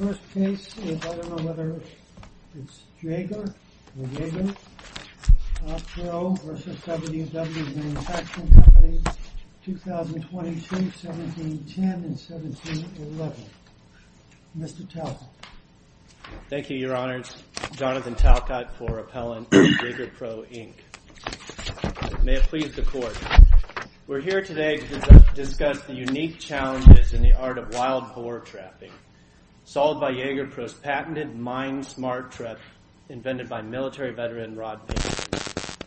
May it please the Court, we're here today to discuss the unique challenges in the art of wild boar trapping. Solved by Jager Pro's patented MIND smart trap invented by military veteran Rod Bingham.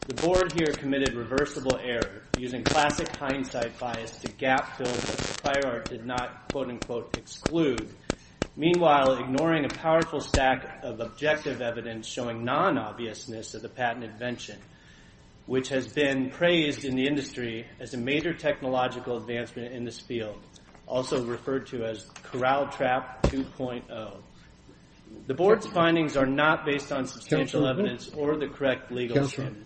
The board here committed reversible error using classic hindsight bias to gap-filled what the fire art did not quote-unquote exclude. Meanwhile, ignoring a powerful stack of objective evidence showing non-obviousness of the patent invention, which has been praised in the industry as a major technological advancement in this field. Also referred to as Corral Trap 2.0. The board's findings are not based on substantial evidence or the correct legal standard.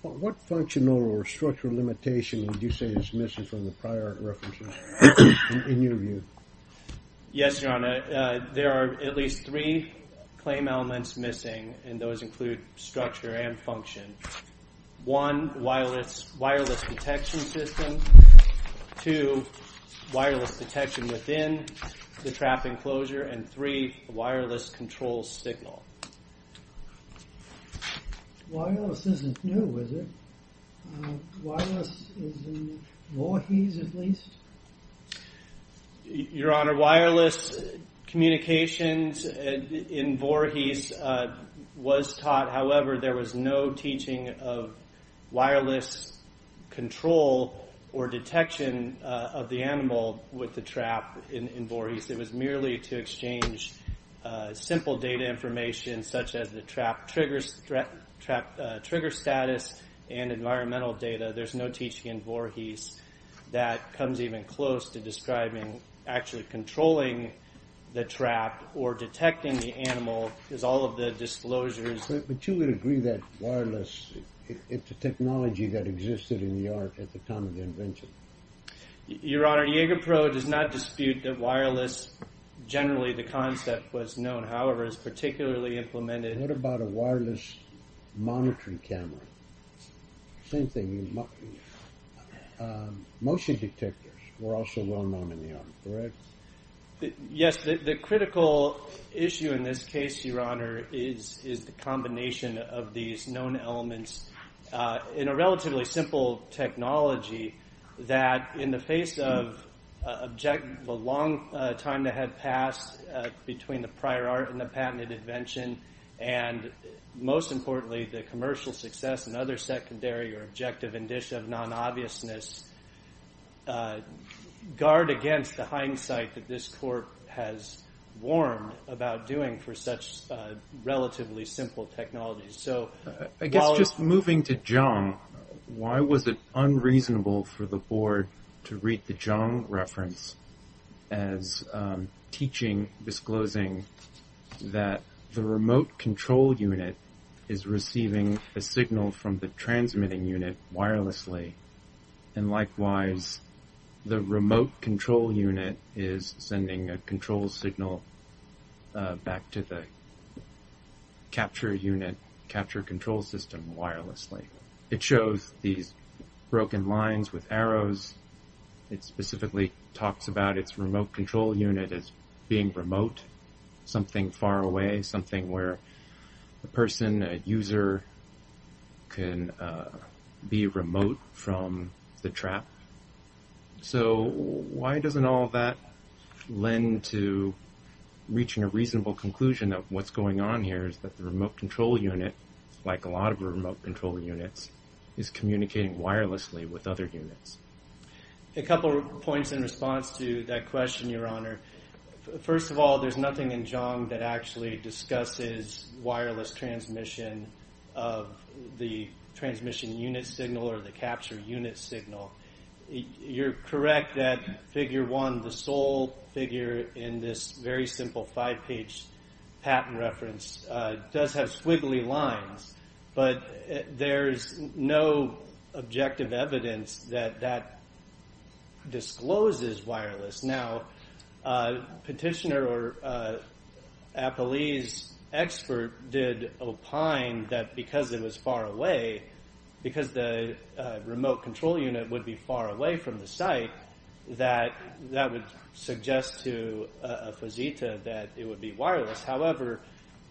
What functional or structural limitation would you say is missing from the prior references, in your view? Yes, Your Honor. There are at least three claim elements missing, and those include structure and function. One, wireless detection system. Two, wireless detection within the trap enclosure. And three, wireless control signal. Wireless isn't new, is it? Wireless is in Voorhees, at least? Your Honor, wireless communications in Voorhees was taught. However, there was no teaching of wireless control or detection of the animal with the trap in Voorhees. It was merely to exchange simple data information, such as the trap trigger status and environmental data. There's no teaching in Voorhees that comes even close to describing actually controlling the trap or detecting the animal, is all of the disclosures. But you would agree that wireless, it's a technology that existed in the art at the time of the invention? Your Honor, Jaeger Pro does not dispute that wireless, generally the concept was known. However, it's particularly implemented... What about a wireless monitoring camera? Same thing. Motion detectors were also well known in the art, correct? Yes, the critical issue in this case, Your Honor, is the combination of these known elements in a relatively simple technology that in the face of the long time that had passed between the prior art and the patented invention, and most importantly, the commercial success and other secondary or objective indicia of non-obviousness, guard against the hindsight that this court has warned about doing for such relatively simple technologies. So, I guess just moving to Zhang, why was it unreasonable for the board to read the Zhang reference as teaching, disclosing that the remote control unit is receiving a signal from the transmitting unit wirelessly? And likewise, the remote control unit is sending a control signal back to the capture unit, capture control system wirelessly. It shows these broken lines with arrows. It specifically talks about its remote control unit as being remote, something far away, something where a person, a user, can be remote from the trap. So, why doesn't all that lend to reaching a reasonable conclusion that what's going on here is that the remote control unit, like a lot of remote control units, is communicating wirelessly with other units? A couple of points in response to that question, Your Honor. First of all, there's nothing in Zhang that actually discusses wireless transmission of the transmission unit signal or the capture unit signal. You're correct that figure one, the sole figure in this very simple five-page patent reference, does have squiggly lines, but there's no objective evidence that that discloses wireless. Now, a petitioner or a police expert did opine that because it was far away, because the remote control unit would be far away from the site, that that would suggest to a fazita that it would be wireless. However,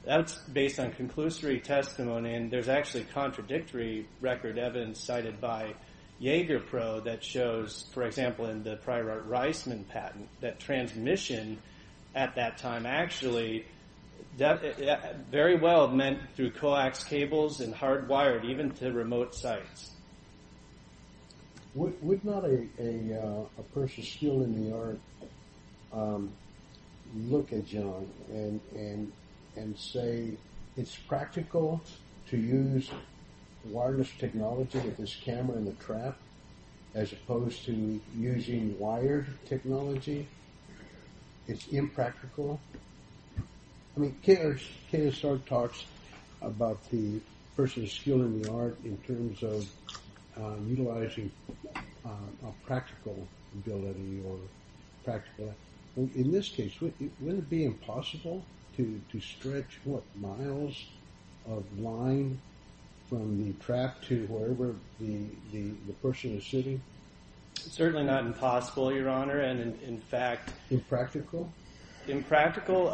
that's based on conclusory testimony, and there's actually contradictory record evidence cited by Jaeger Pro that shows, for example, in the Prior Art Reisman patent, that transmission, at that time, actually very well meant through coax cables and hardwired even to remote sites. Would not a person still in New York look at Zhang and say, it's practical to use wireless technology with this camera in the trap, as opposed to using wired technology? It's impractical? I mean, KSR talks about the person's skill in the art in terms of utilizing a practical ability. In this case, wouldn't it be impossible to stretch, what, miles of line from the trap to wherever the person is sitting? Certainly not impossible, Your Honor, and in fact... Impractical? Impractical,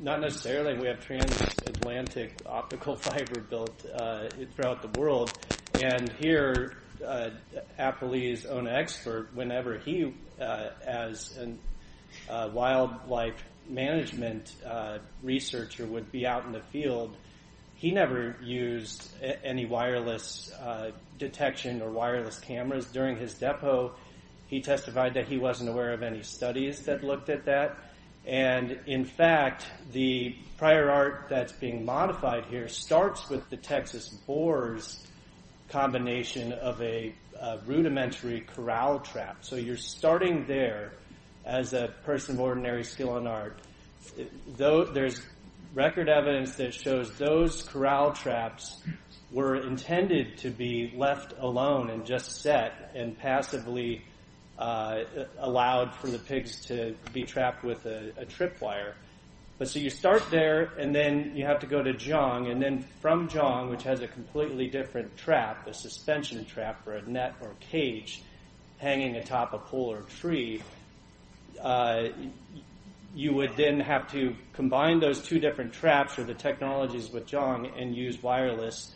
not necessarily. We have transatlantic optical fiber built throughout the world, and here, Apoli's own expert, whenever he, as a wildlife management researcher, would be out in the field, he never used any wireless detection or wireless cameras. During his depo, he testified that he wasn't aware of any studies that looked at that, and in fact, the prior art that's being modified here starts with the Texas boars combination of a rudimentary corral trap. So you're starting there, as a person of ordinary skill in art. There's record evidence that shows those corral traps were intended to be left alone and just set, and passively allowed for the pigs to be trapped with a trip wire. But so you start there, and then you have to go to Jong, and then from Jong, which has a completely different trap, a suspension trap for a net or a cage hanging atop a pole or a tree, you would then have to combine those two different traps or the technologies with Jong and use wireless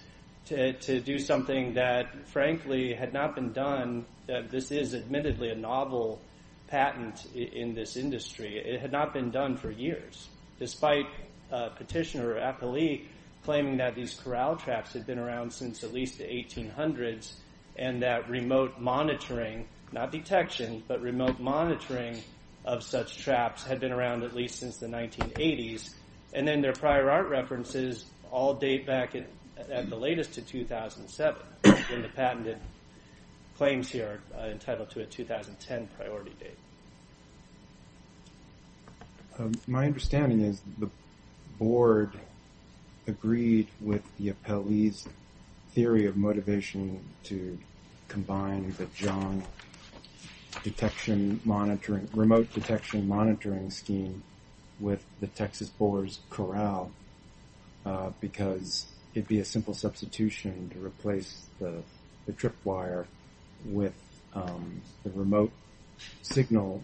to do something that, frankly, had not been done. This is admittedly a novel patent in this industry. It had not been done for years. Despite petitioner Apoli claiming that these corral traps had been around since at least the 1800s, and that remote monitoring, not detection, but remote monitoring of such traps had been around at least since the 1980s, and then their prior art references all date back at the latest to 2007, when the patented claims here are entitled to a 2010 priority date. My understanding is the board agreed with the Apoli's theory of motivation to combine the Jong detection monitoring, the remote detection monitoring scheme with the Texas 4's corral, because it would be a simple substitution to replace the trip wire with the remote signal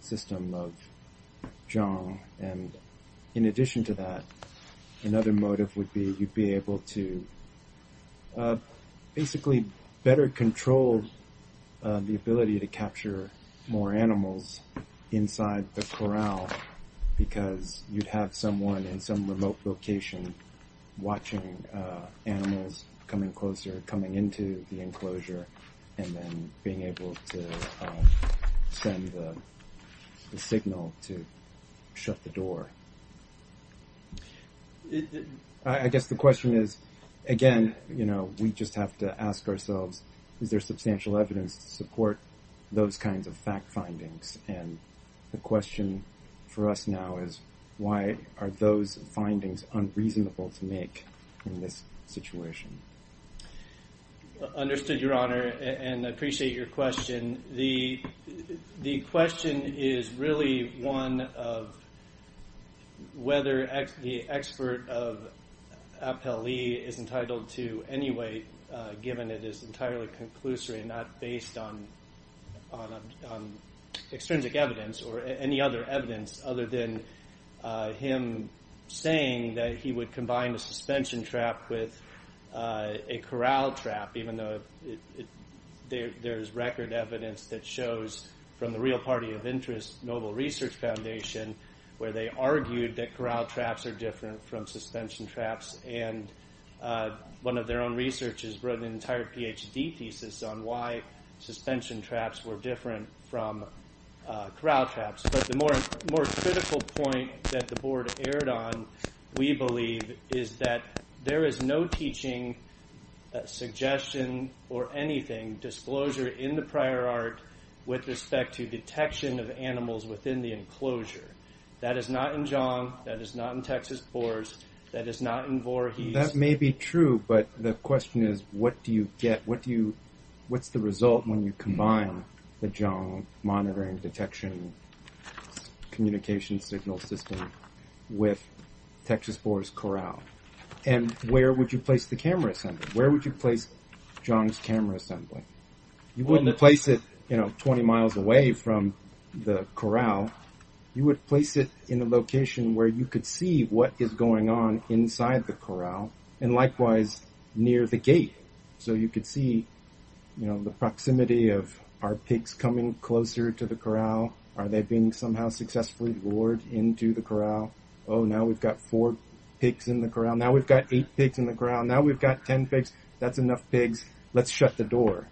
system of Jong. In addition to that, another motive would be you'd be able to basically better control the ability to capture more animals inside the corral, because you'd have someone in some remote location watching animals coming closer, and then being able to send the signal to shut the door. I guess the question is, again, you know, we just have to ask ourselves, is there substantial evidence to support those kinds of fact findings? And the question for us now is, why are those findings unreasonable to make in this situation? Understood, Your Honor, and I appreciate your question. The question is really one of whether the expert of Apoli is entitled to any weight, given it is entirely conclusory and not based on extrinsic evidence, or any other evidence, other than him saying that he would combine a suspension trap with a corral trap, even though there's record evidence that shows from the real party of interest, Noble Research Foundation, where they argued that corral traps are different from suspension traps, and one of their own researchers wrote an entire PhD thesis on why suspension traps were different from corral traps. But the more critical point that the board erred on, we believe, is that there is no teaching, suggestion, or anything, disclosure in the prior art, with respect to detection of animals within the enclosure. That is not in Zhang, that is not in Texas Boers, that is not in Voorhees. That may be true, but the question is, what do you get, what do you, what's the result when you combine the Zhang monitoring detection communication signal system with Texas Boers' corral? And where would you place the camera assembly, where would you place Zhang's camera assembly? You wouldn't place it, you know, 20 miles away from the corral, you would place it in a location where you could see what is going on inside the corral, and likewise, near the gate, so you could see, you know, the proximity of, are pigs coming closer to the corral, are they being somehow successfully lured into the corral, oh, now we've got four pigs in the corral, now we've got eight pigs in the corral, now we've got ten pigs, that's enough pigs, let's shut the door.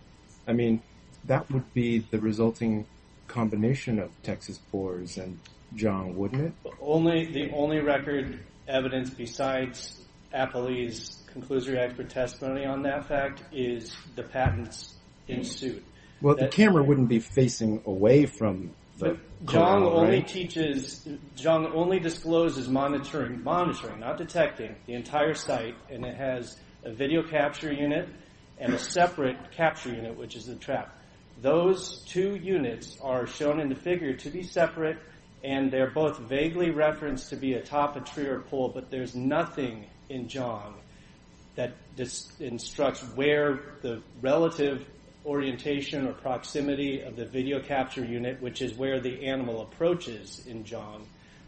I mean, that would be the resulting combination of Texas Boers and Zhang, wouldn't it? The only record evidence besides Appley's Conclusory Act for Testimony on that fact is the patents in suit. Well, the camera wouldn't be facing away from the corral, right? Zhang only discloses monitoring, monitoring, not detecting, the entire site, and it has a video capture unit and a separate capture unit, which is a trap. Those two units are shown in the figure to be separate, and they're both vaguely referenced to be atop a tree or a pole, but there's nothing in Zhang that instructs where the relative orientation or proximity of the video capture unit, which is where the animal approaches in Zhang,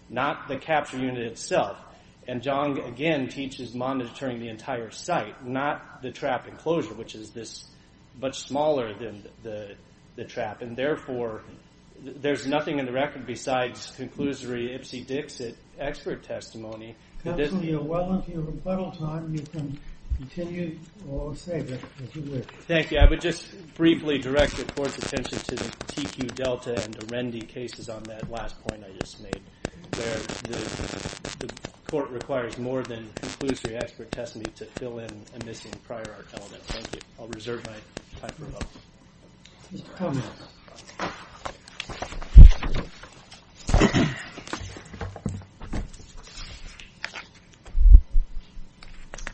not the capture unit itself. And Zhang, again, teaches monitoring the entire site, not the trap enclosure, which is this much smaller than the trap. And therefore, there's nothing in the record besides Conclusory Ipsy-Dixit Expert Testimony. Thank you. I would just briefly direct the Court's attention to the TQ Delta and the Rendy cases on that last point I just made, where the Court requires more than Conclusory Expert Testimony to fill in a missing prior art element. Thank you. I'll reserve my time for a moment.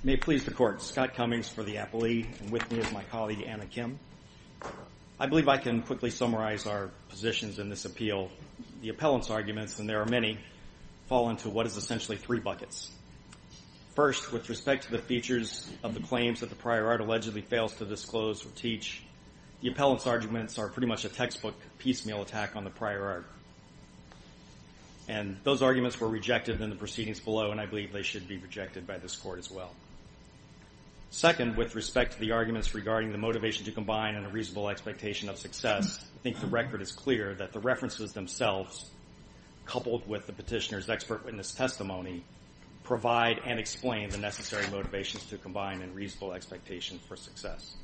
May it please the Court. Scott Cummings for the appellee, and with me is my colleague, Anna Kim. I believe I can quickly summarize our positions in this appeal. The appellant's arguments, and there are many, fall into what is essentially three buckets. First, with respect to the features of the claims that the prior art allegedly fails to disclose or teach, the appellant's arguments are pretty much a textbook piecemeal attack on the prior art. And those arguments were rejected in the proceedings below, and I believe they should be rejected by this Court as well. Second, with respect to the arguments regarding the motivation to combine and a reasonable expectation of success, I think the record is clear that the references themselves, coupled with the petitioner's expert witness testimony, provide and explain the necessary motivations to combine and reasonable expectations for success.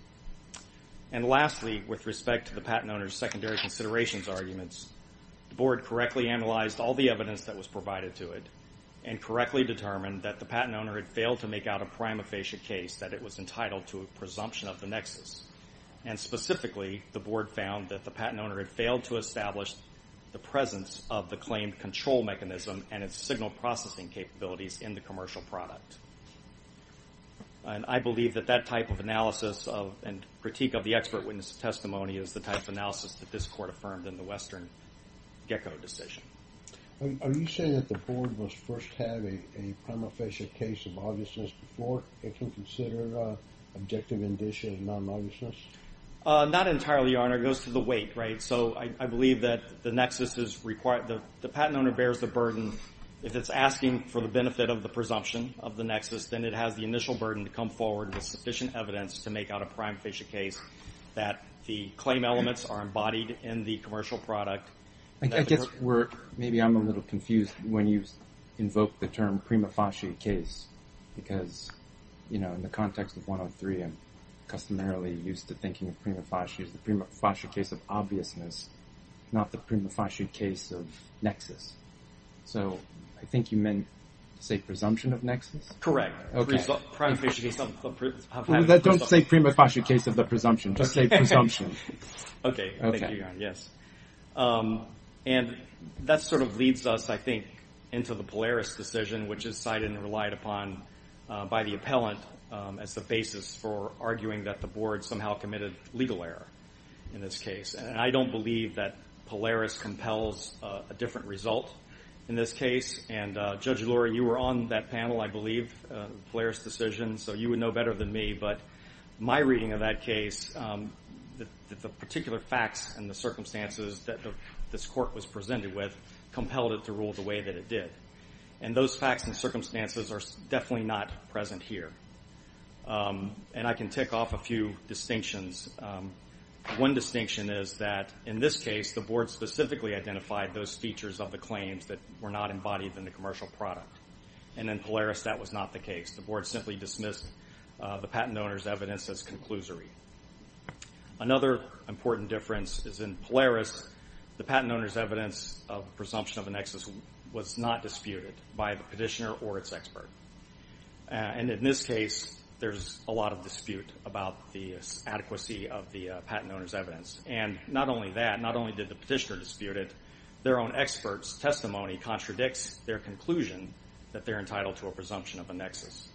And lastly, with respect to the patent owner's secondary considerations arguments, the Board correctly analyzed all the evidence that was provided to it, and correctly determined that the patent owner had failed to make out a prima facie case that it was entitled to a presumption of the nexus. And specifically, the Board found that the patent owner had failed to establish the presence of the claimed control mechanism and its signal processing capabilities in the commercial product. And I believe that that type of analysis and critique of the expert witness testimony is the type of analysis that this Court affirmed in the Western GECCO decision. Are you saying that the Board must first have a prima facie case of obviousness before it can consider objective indicia of non-obviousness? Not entirely, Your Honor. It goes to the weight, right? So I believe that the nexus is required, the patent owner bears the burden. If it's asking for the benefit of the presumption of the nexus, then it has the initial burden to come forward with sufficient evidence to make out a prime facie case that the claim elements are embodied in the commercial product. I guess we're, maybe I'm a little confused when you invoke the term prima facie case, because, you know, in the context of 103, I'm customarily used to thinking of prima facie as the prima facie case of obviousness, not the prima facie case of nexus. So I think you meant to say presumption of nexus? Correct. Don't say prima facie case of the presumption. Just say presumption. Okay. Thank you, Your Honor. Yes. And that sort of leads us, I think, into the Polaris decision, which is cited and relied upon by the appellant as the basis for arguing that the board somehow committed legal error in this case. And I don't believe that Polaris compels a different result in this case. And Judge Lurie, you were on that panel, I believe, Polaris decision, so you would know better than me. But my reading of that case, the particular facts and the circumstances that this court was presented with compelled it to rule the way that it did. And those facts and circumstances are definitely not present here. And I can tick off a few distinctions. One distinction is that in this case, the board specifically identified those features of the claims that were not embodied in the commercial product. And in Polaris, that was not the case. The board simply dismissed the patent owner's evidence as conclusory. Another important difference is in Polaris, the patent owner's evidence of presumption of a nexus was not disputed by the petitioner or its expert. And in this case, there's a lot of dispute about the adequacy of the patent owner's evidence. And not only that, not only did the petitioner dispute it, their own expert's testimony contradicts their conclusion that they're entitled to a presumption of a nexus.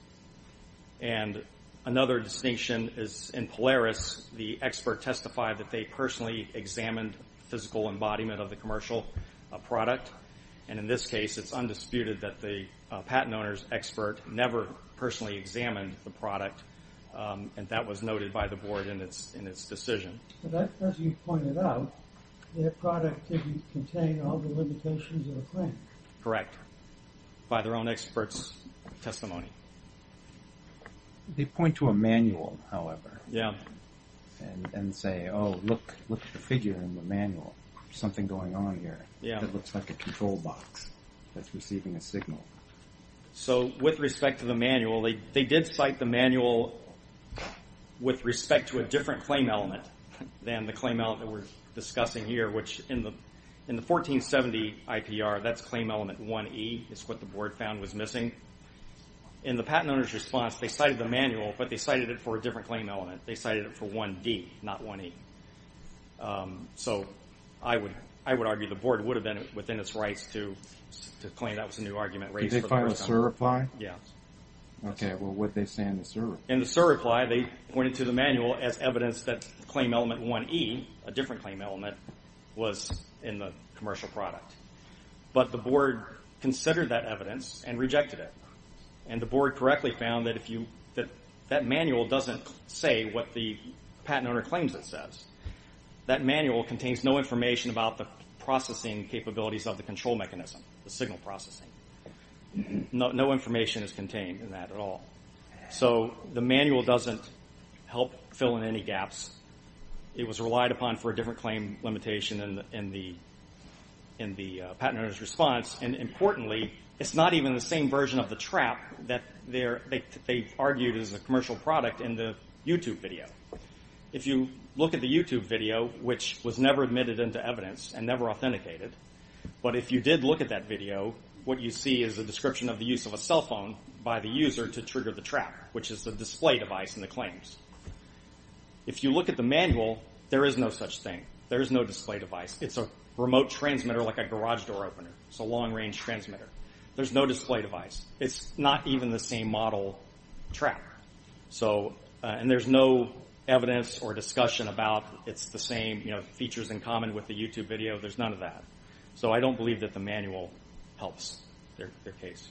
And another distinction is in Polaris, the expert testified that they personally examined physical embodiment of the commercial product. And in this case, it's undisputed that the patent owner's expert never personally examined the product. And that was noted by the board in its decision. As you pointed out, their product didn't contain all the limitations of a claim. By their own expert's testimony. They point to a manual, however. And say, oh, look at the figure in the manual. There's something going on here. It looks like a control box that's receiving a signal. So, with respect to the manual, they did cite the manual with respect to a different claim element than the claim element we're discussing here, which in the 1470 IPR, that's claim element 1E, is what the board found was missing. In the patent owner's response, they cited the manual, but they cited it for a different claim element. They cited it for 1D, not 1E. So, I would argue the board would have been within its rights to claim that was a new argument raised. Did they file a SIR reply? Yeah. Okay, well, what'd they say in the SIR reply? In the SIR reply, they pointed to the manual as evidence that claim element 1E, a different claim element, was in the commercial product. But the board considered that evidence and rejected it. And the board correctly found that that manual doesn't say what the patent owner claims it says. That manual contains no information about the processing capabilities of the control mechanism, the signal processing. No information is contained in that at all. So, the manual doesn't help fill in any gaps. It was relied upon for a different claim limitation in the patent owner's response. And importantly, it's not even the same version of the trap that they've argued is a commercial product in the YouTube video. If you look at the YouTube video, which was never admitted into evidence and never authenticated, but if you did look at that video, what you see is a description of the use of a cell phone by the user to trigger the trap, which is the display device in the claims. If you look at the manual, there is no such thing. There is no display device. It's a remote transmitter like a garage door opener. It's a long-range transmitter. There's no display device. It's not even the same model trap. And there's no evidence or discussion about it's the same features in common with the YouTube video. There's none of that. So, I don't believe that the manual helps their case.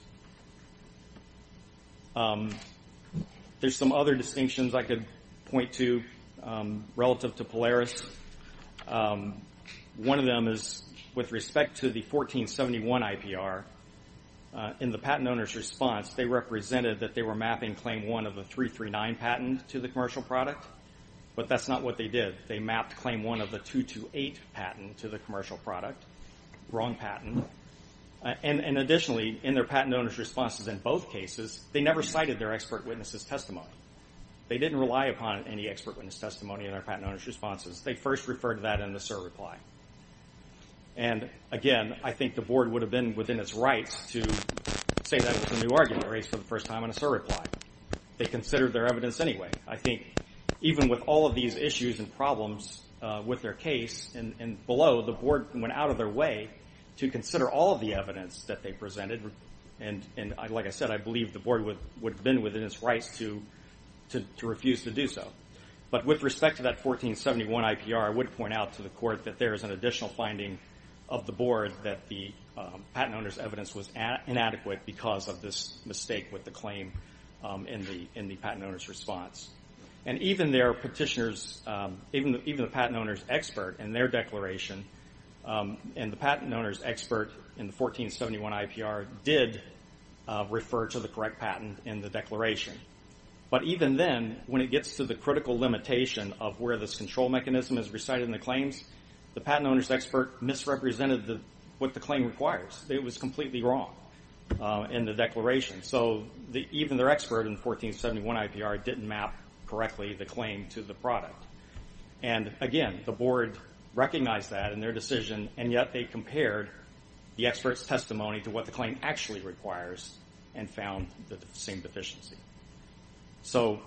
There's some other distinctions I could point to relative to Polaris. One of them is with respect to the 1471 IPR. In the patent owner's response, they represented that they were mapping Claim 1 of the 339 patent to the commercial product, but that's not what they did. They mapped Claim 1 of the 228 patent to the commercial product. Wrong patent. And additionally, in their patent owner's responses in both cases, they never cited their expert witness's testimony. They didn't rely upon any expert witness testimony in their patent owner's responses. They first referred to that in a cert reply. And again, I think the board would have been within its rights to say that was a new argument raised for the first time in a cert reply. They considered their evidence anyway. I think even with all of these issues and problems with their case and below, the board went out of their way to consider all of the evidence that they presented. And like I said, I believe the board would have been within its rights to refuse to do so. But with respect to that 1471 IPR, I would point out to the court that there is an additional finding of the board that the patent owner's evidence was inadequate because of this mistake with the claim in the patent owner's response. And even their petitioners, even the patent owner's expert in their declaration, and the patent owner's expert in the 1471 IPR did refer to the correct patent in the declaration. But even then, when it gets to the critical limitation of where this control mechanism is recited in the claims, the patent owner's expert misrepresented what the claim requires. It was completely wrong in the declaration. So even their expert in the 1471 IPR didn't map correctly the claim to the product. And again, the board recognized that in their decision, and yet they compared the expert's testimony to what the claim actually requires and found the same deficiency. So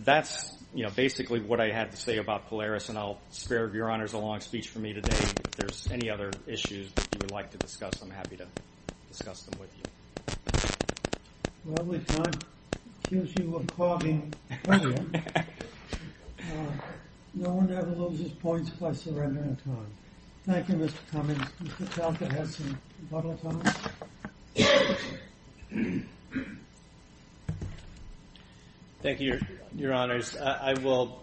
that's, you know, basically what I had to say about Polaris, and I'll spare Your Honors a long speech from me today. If there's any other issues you would like to discuss, I'm happy to discuss them with you. Well, we can't accuse you of clogging earlier. No one ever loses points by surrendering a time. Thank you, Mr. Cummings. Mr. Talcott has some public comments. Thank you, Your Honors. I will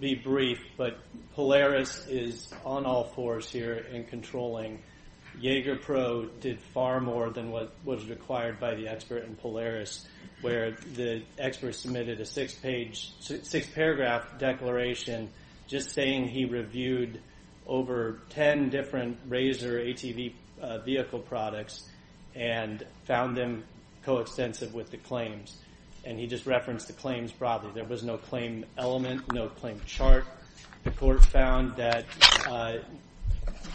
be brief, but Polaris is on all fours here in controlling. Jaeger Pro did far more than what was required by the expert in Polaris, where the expert submitted a six-page... six-paragraph declaration just saying he reviewed over ten different Razor ATV vehicle products and found them coextensive with the claims, and he just referenced the claims broadly. There was no claim element, no claim chart. The court found that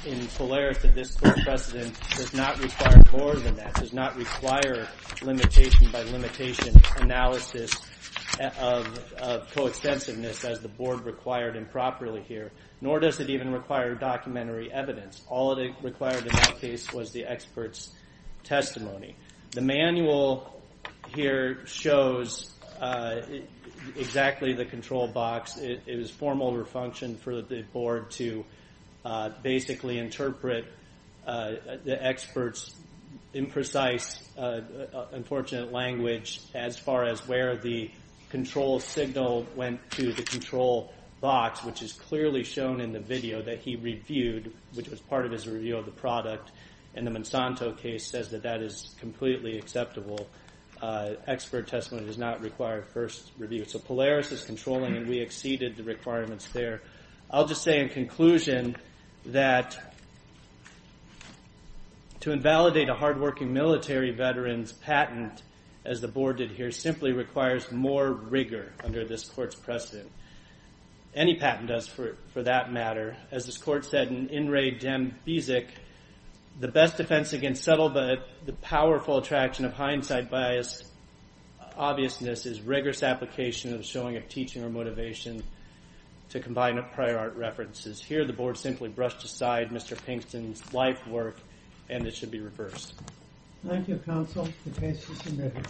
in Polaris that this court precedent does not require more than that, does not require limitation by limitation analysis of coextensiveness as the board required improperly here, nor does it even require documentary evidence. All it required in that case was the expert's testimony. The manual here shows exactly the control box. It was formal refunction for the board to basically interpret the expert's imprecise, unfortunate language as far as where the control signal went to the control box, which is clearly shown in the video that he reviewed, which was part of his review of the product, and the Monsanto case says that that is completely acceptable. Expert testimony does not require first review. So Polaris is controlling, and we exceeded the requirements there. I'll just say in conclusion that... to invalidate a hard-working military veteran's patent as the board did here simply requires more rigor under this court's precedent. Any patent does for that matter. As this court said in In Re Dem Bisic, the best defense against subtle, but the powerful attraction of hindsight bias, obviousness is rigorous application of showing of teaching or motivation to combine prior art references. Here the board simply brushed aside Mr. Pinkston's life work, and it should be reversed. Thank you, counsel. The case is submitted.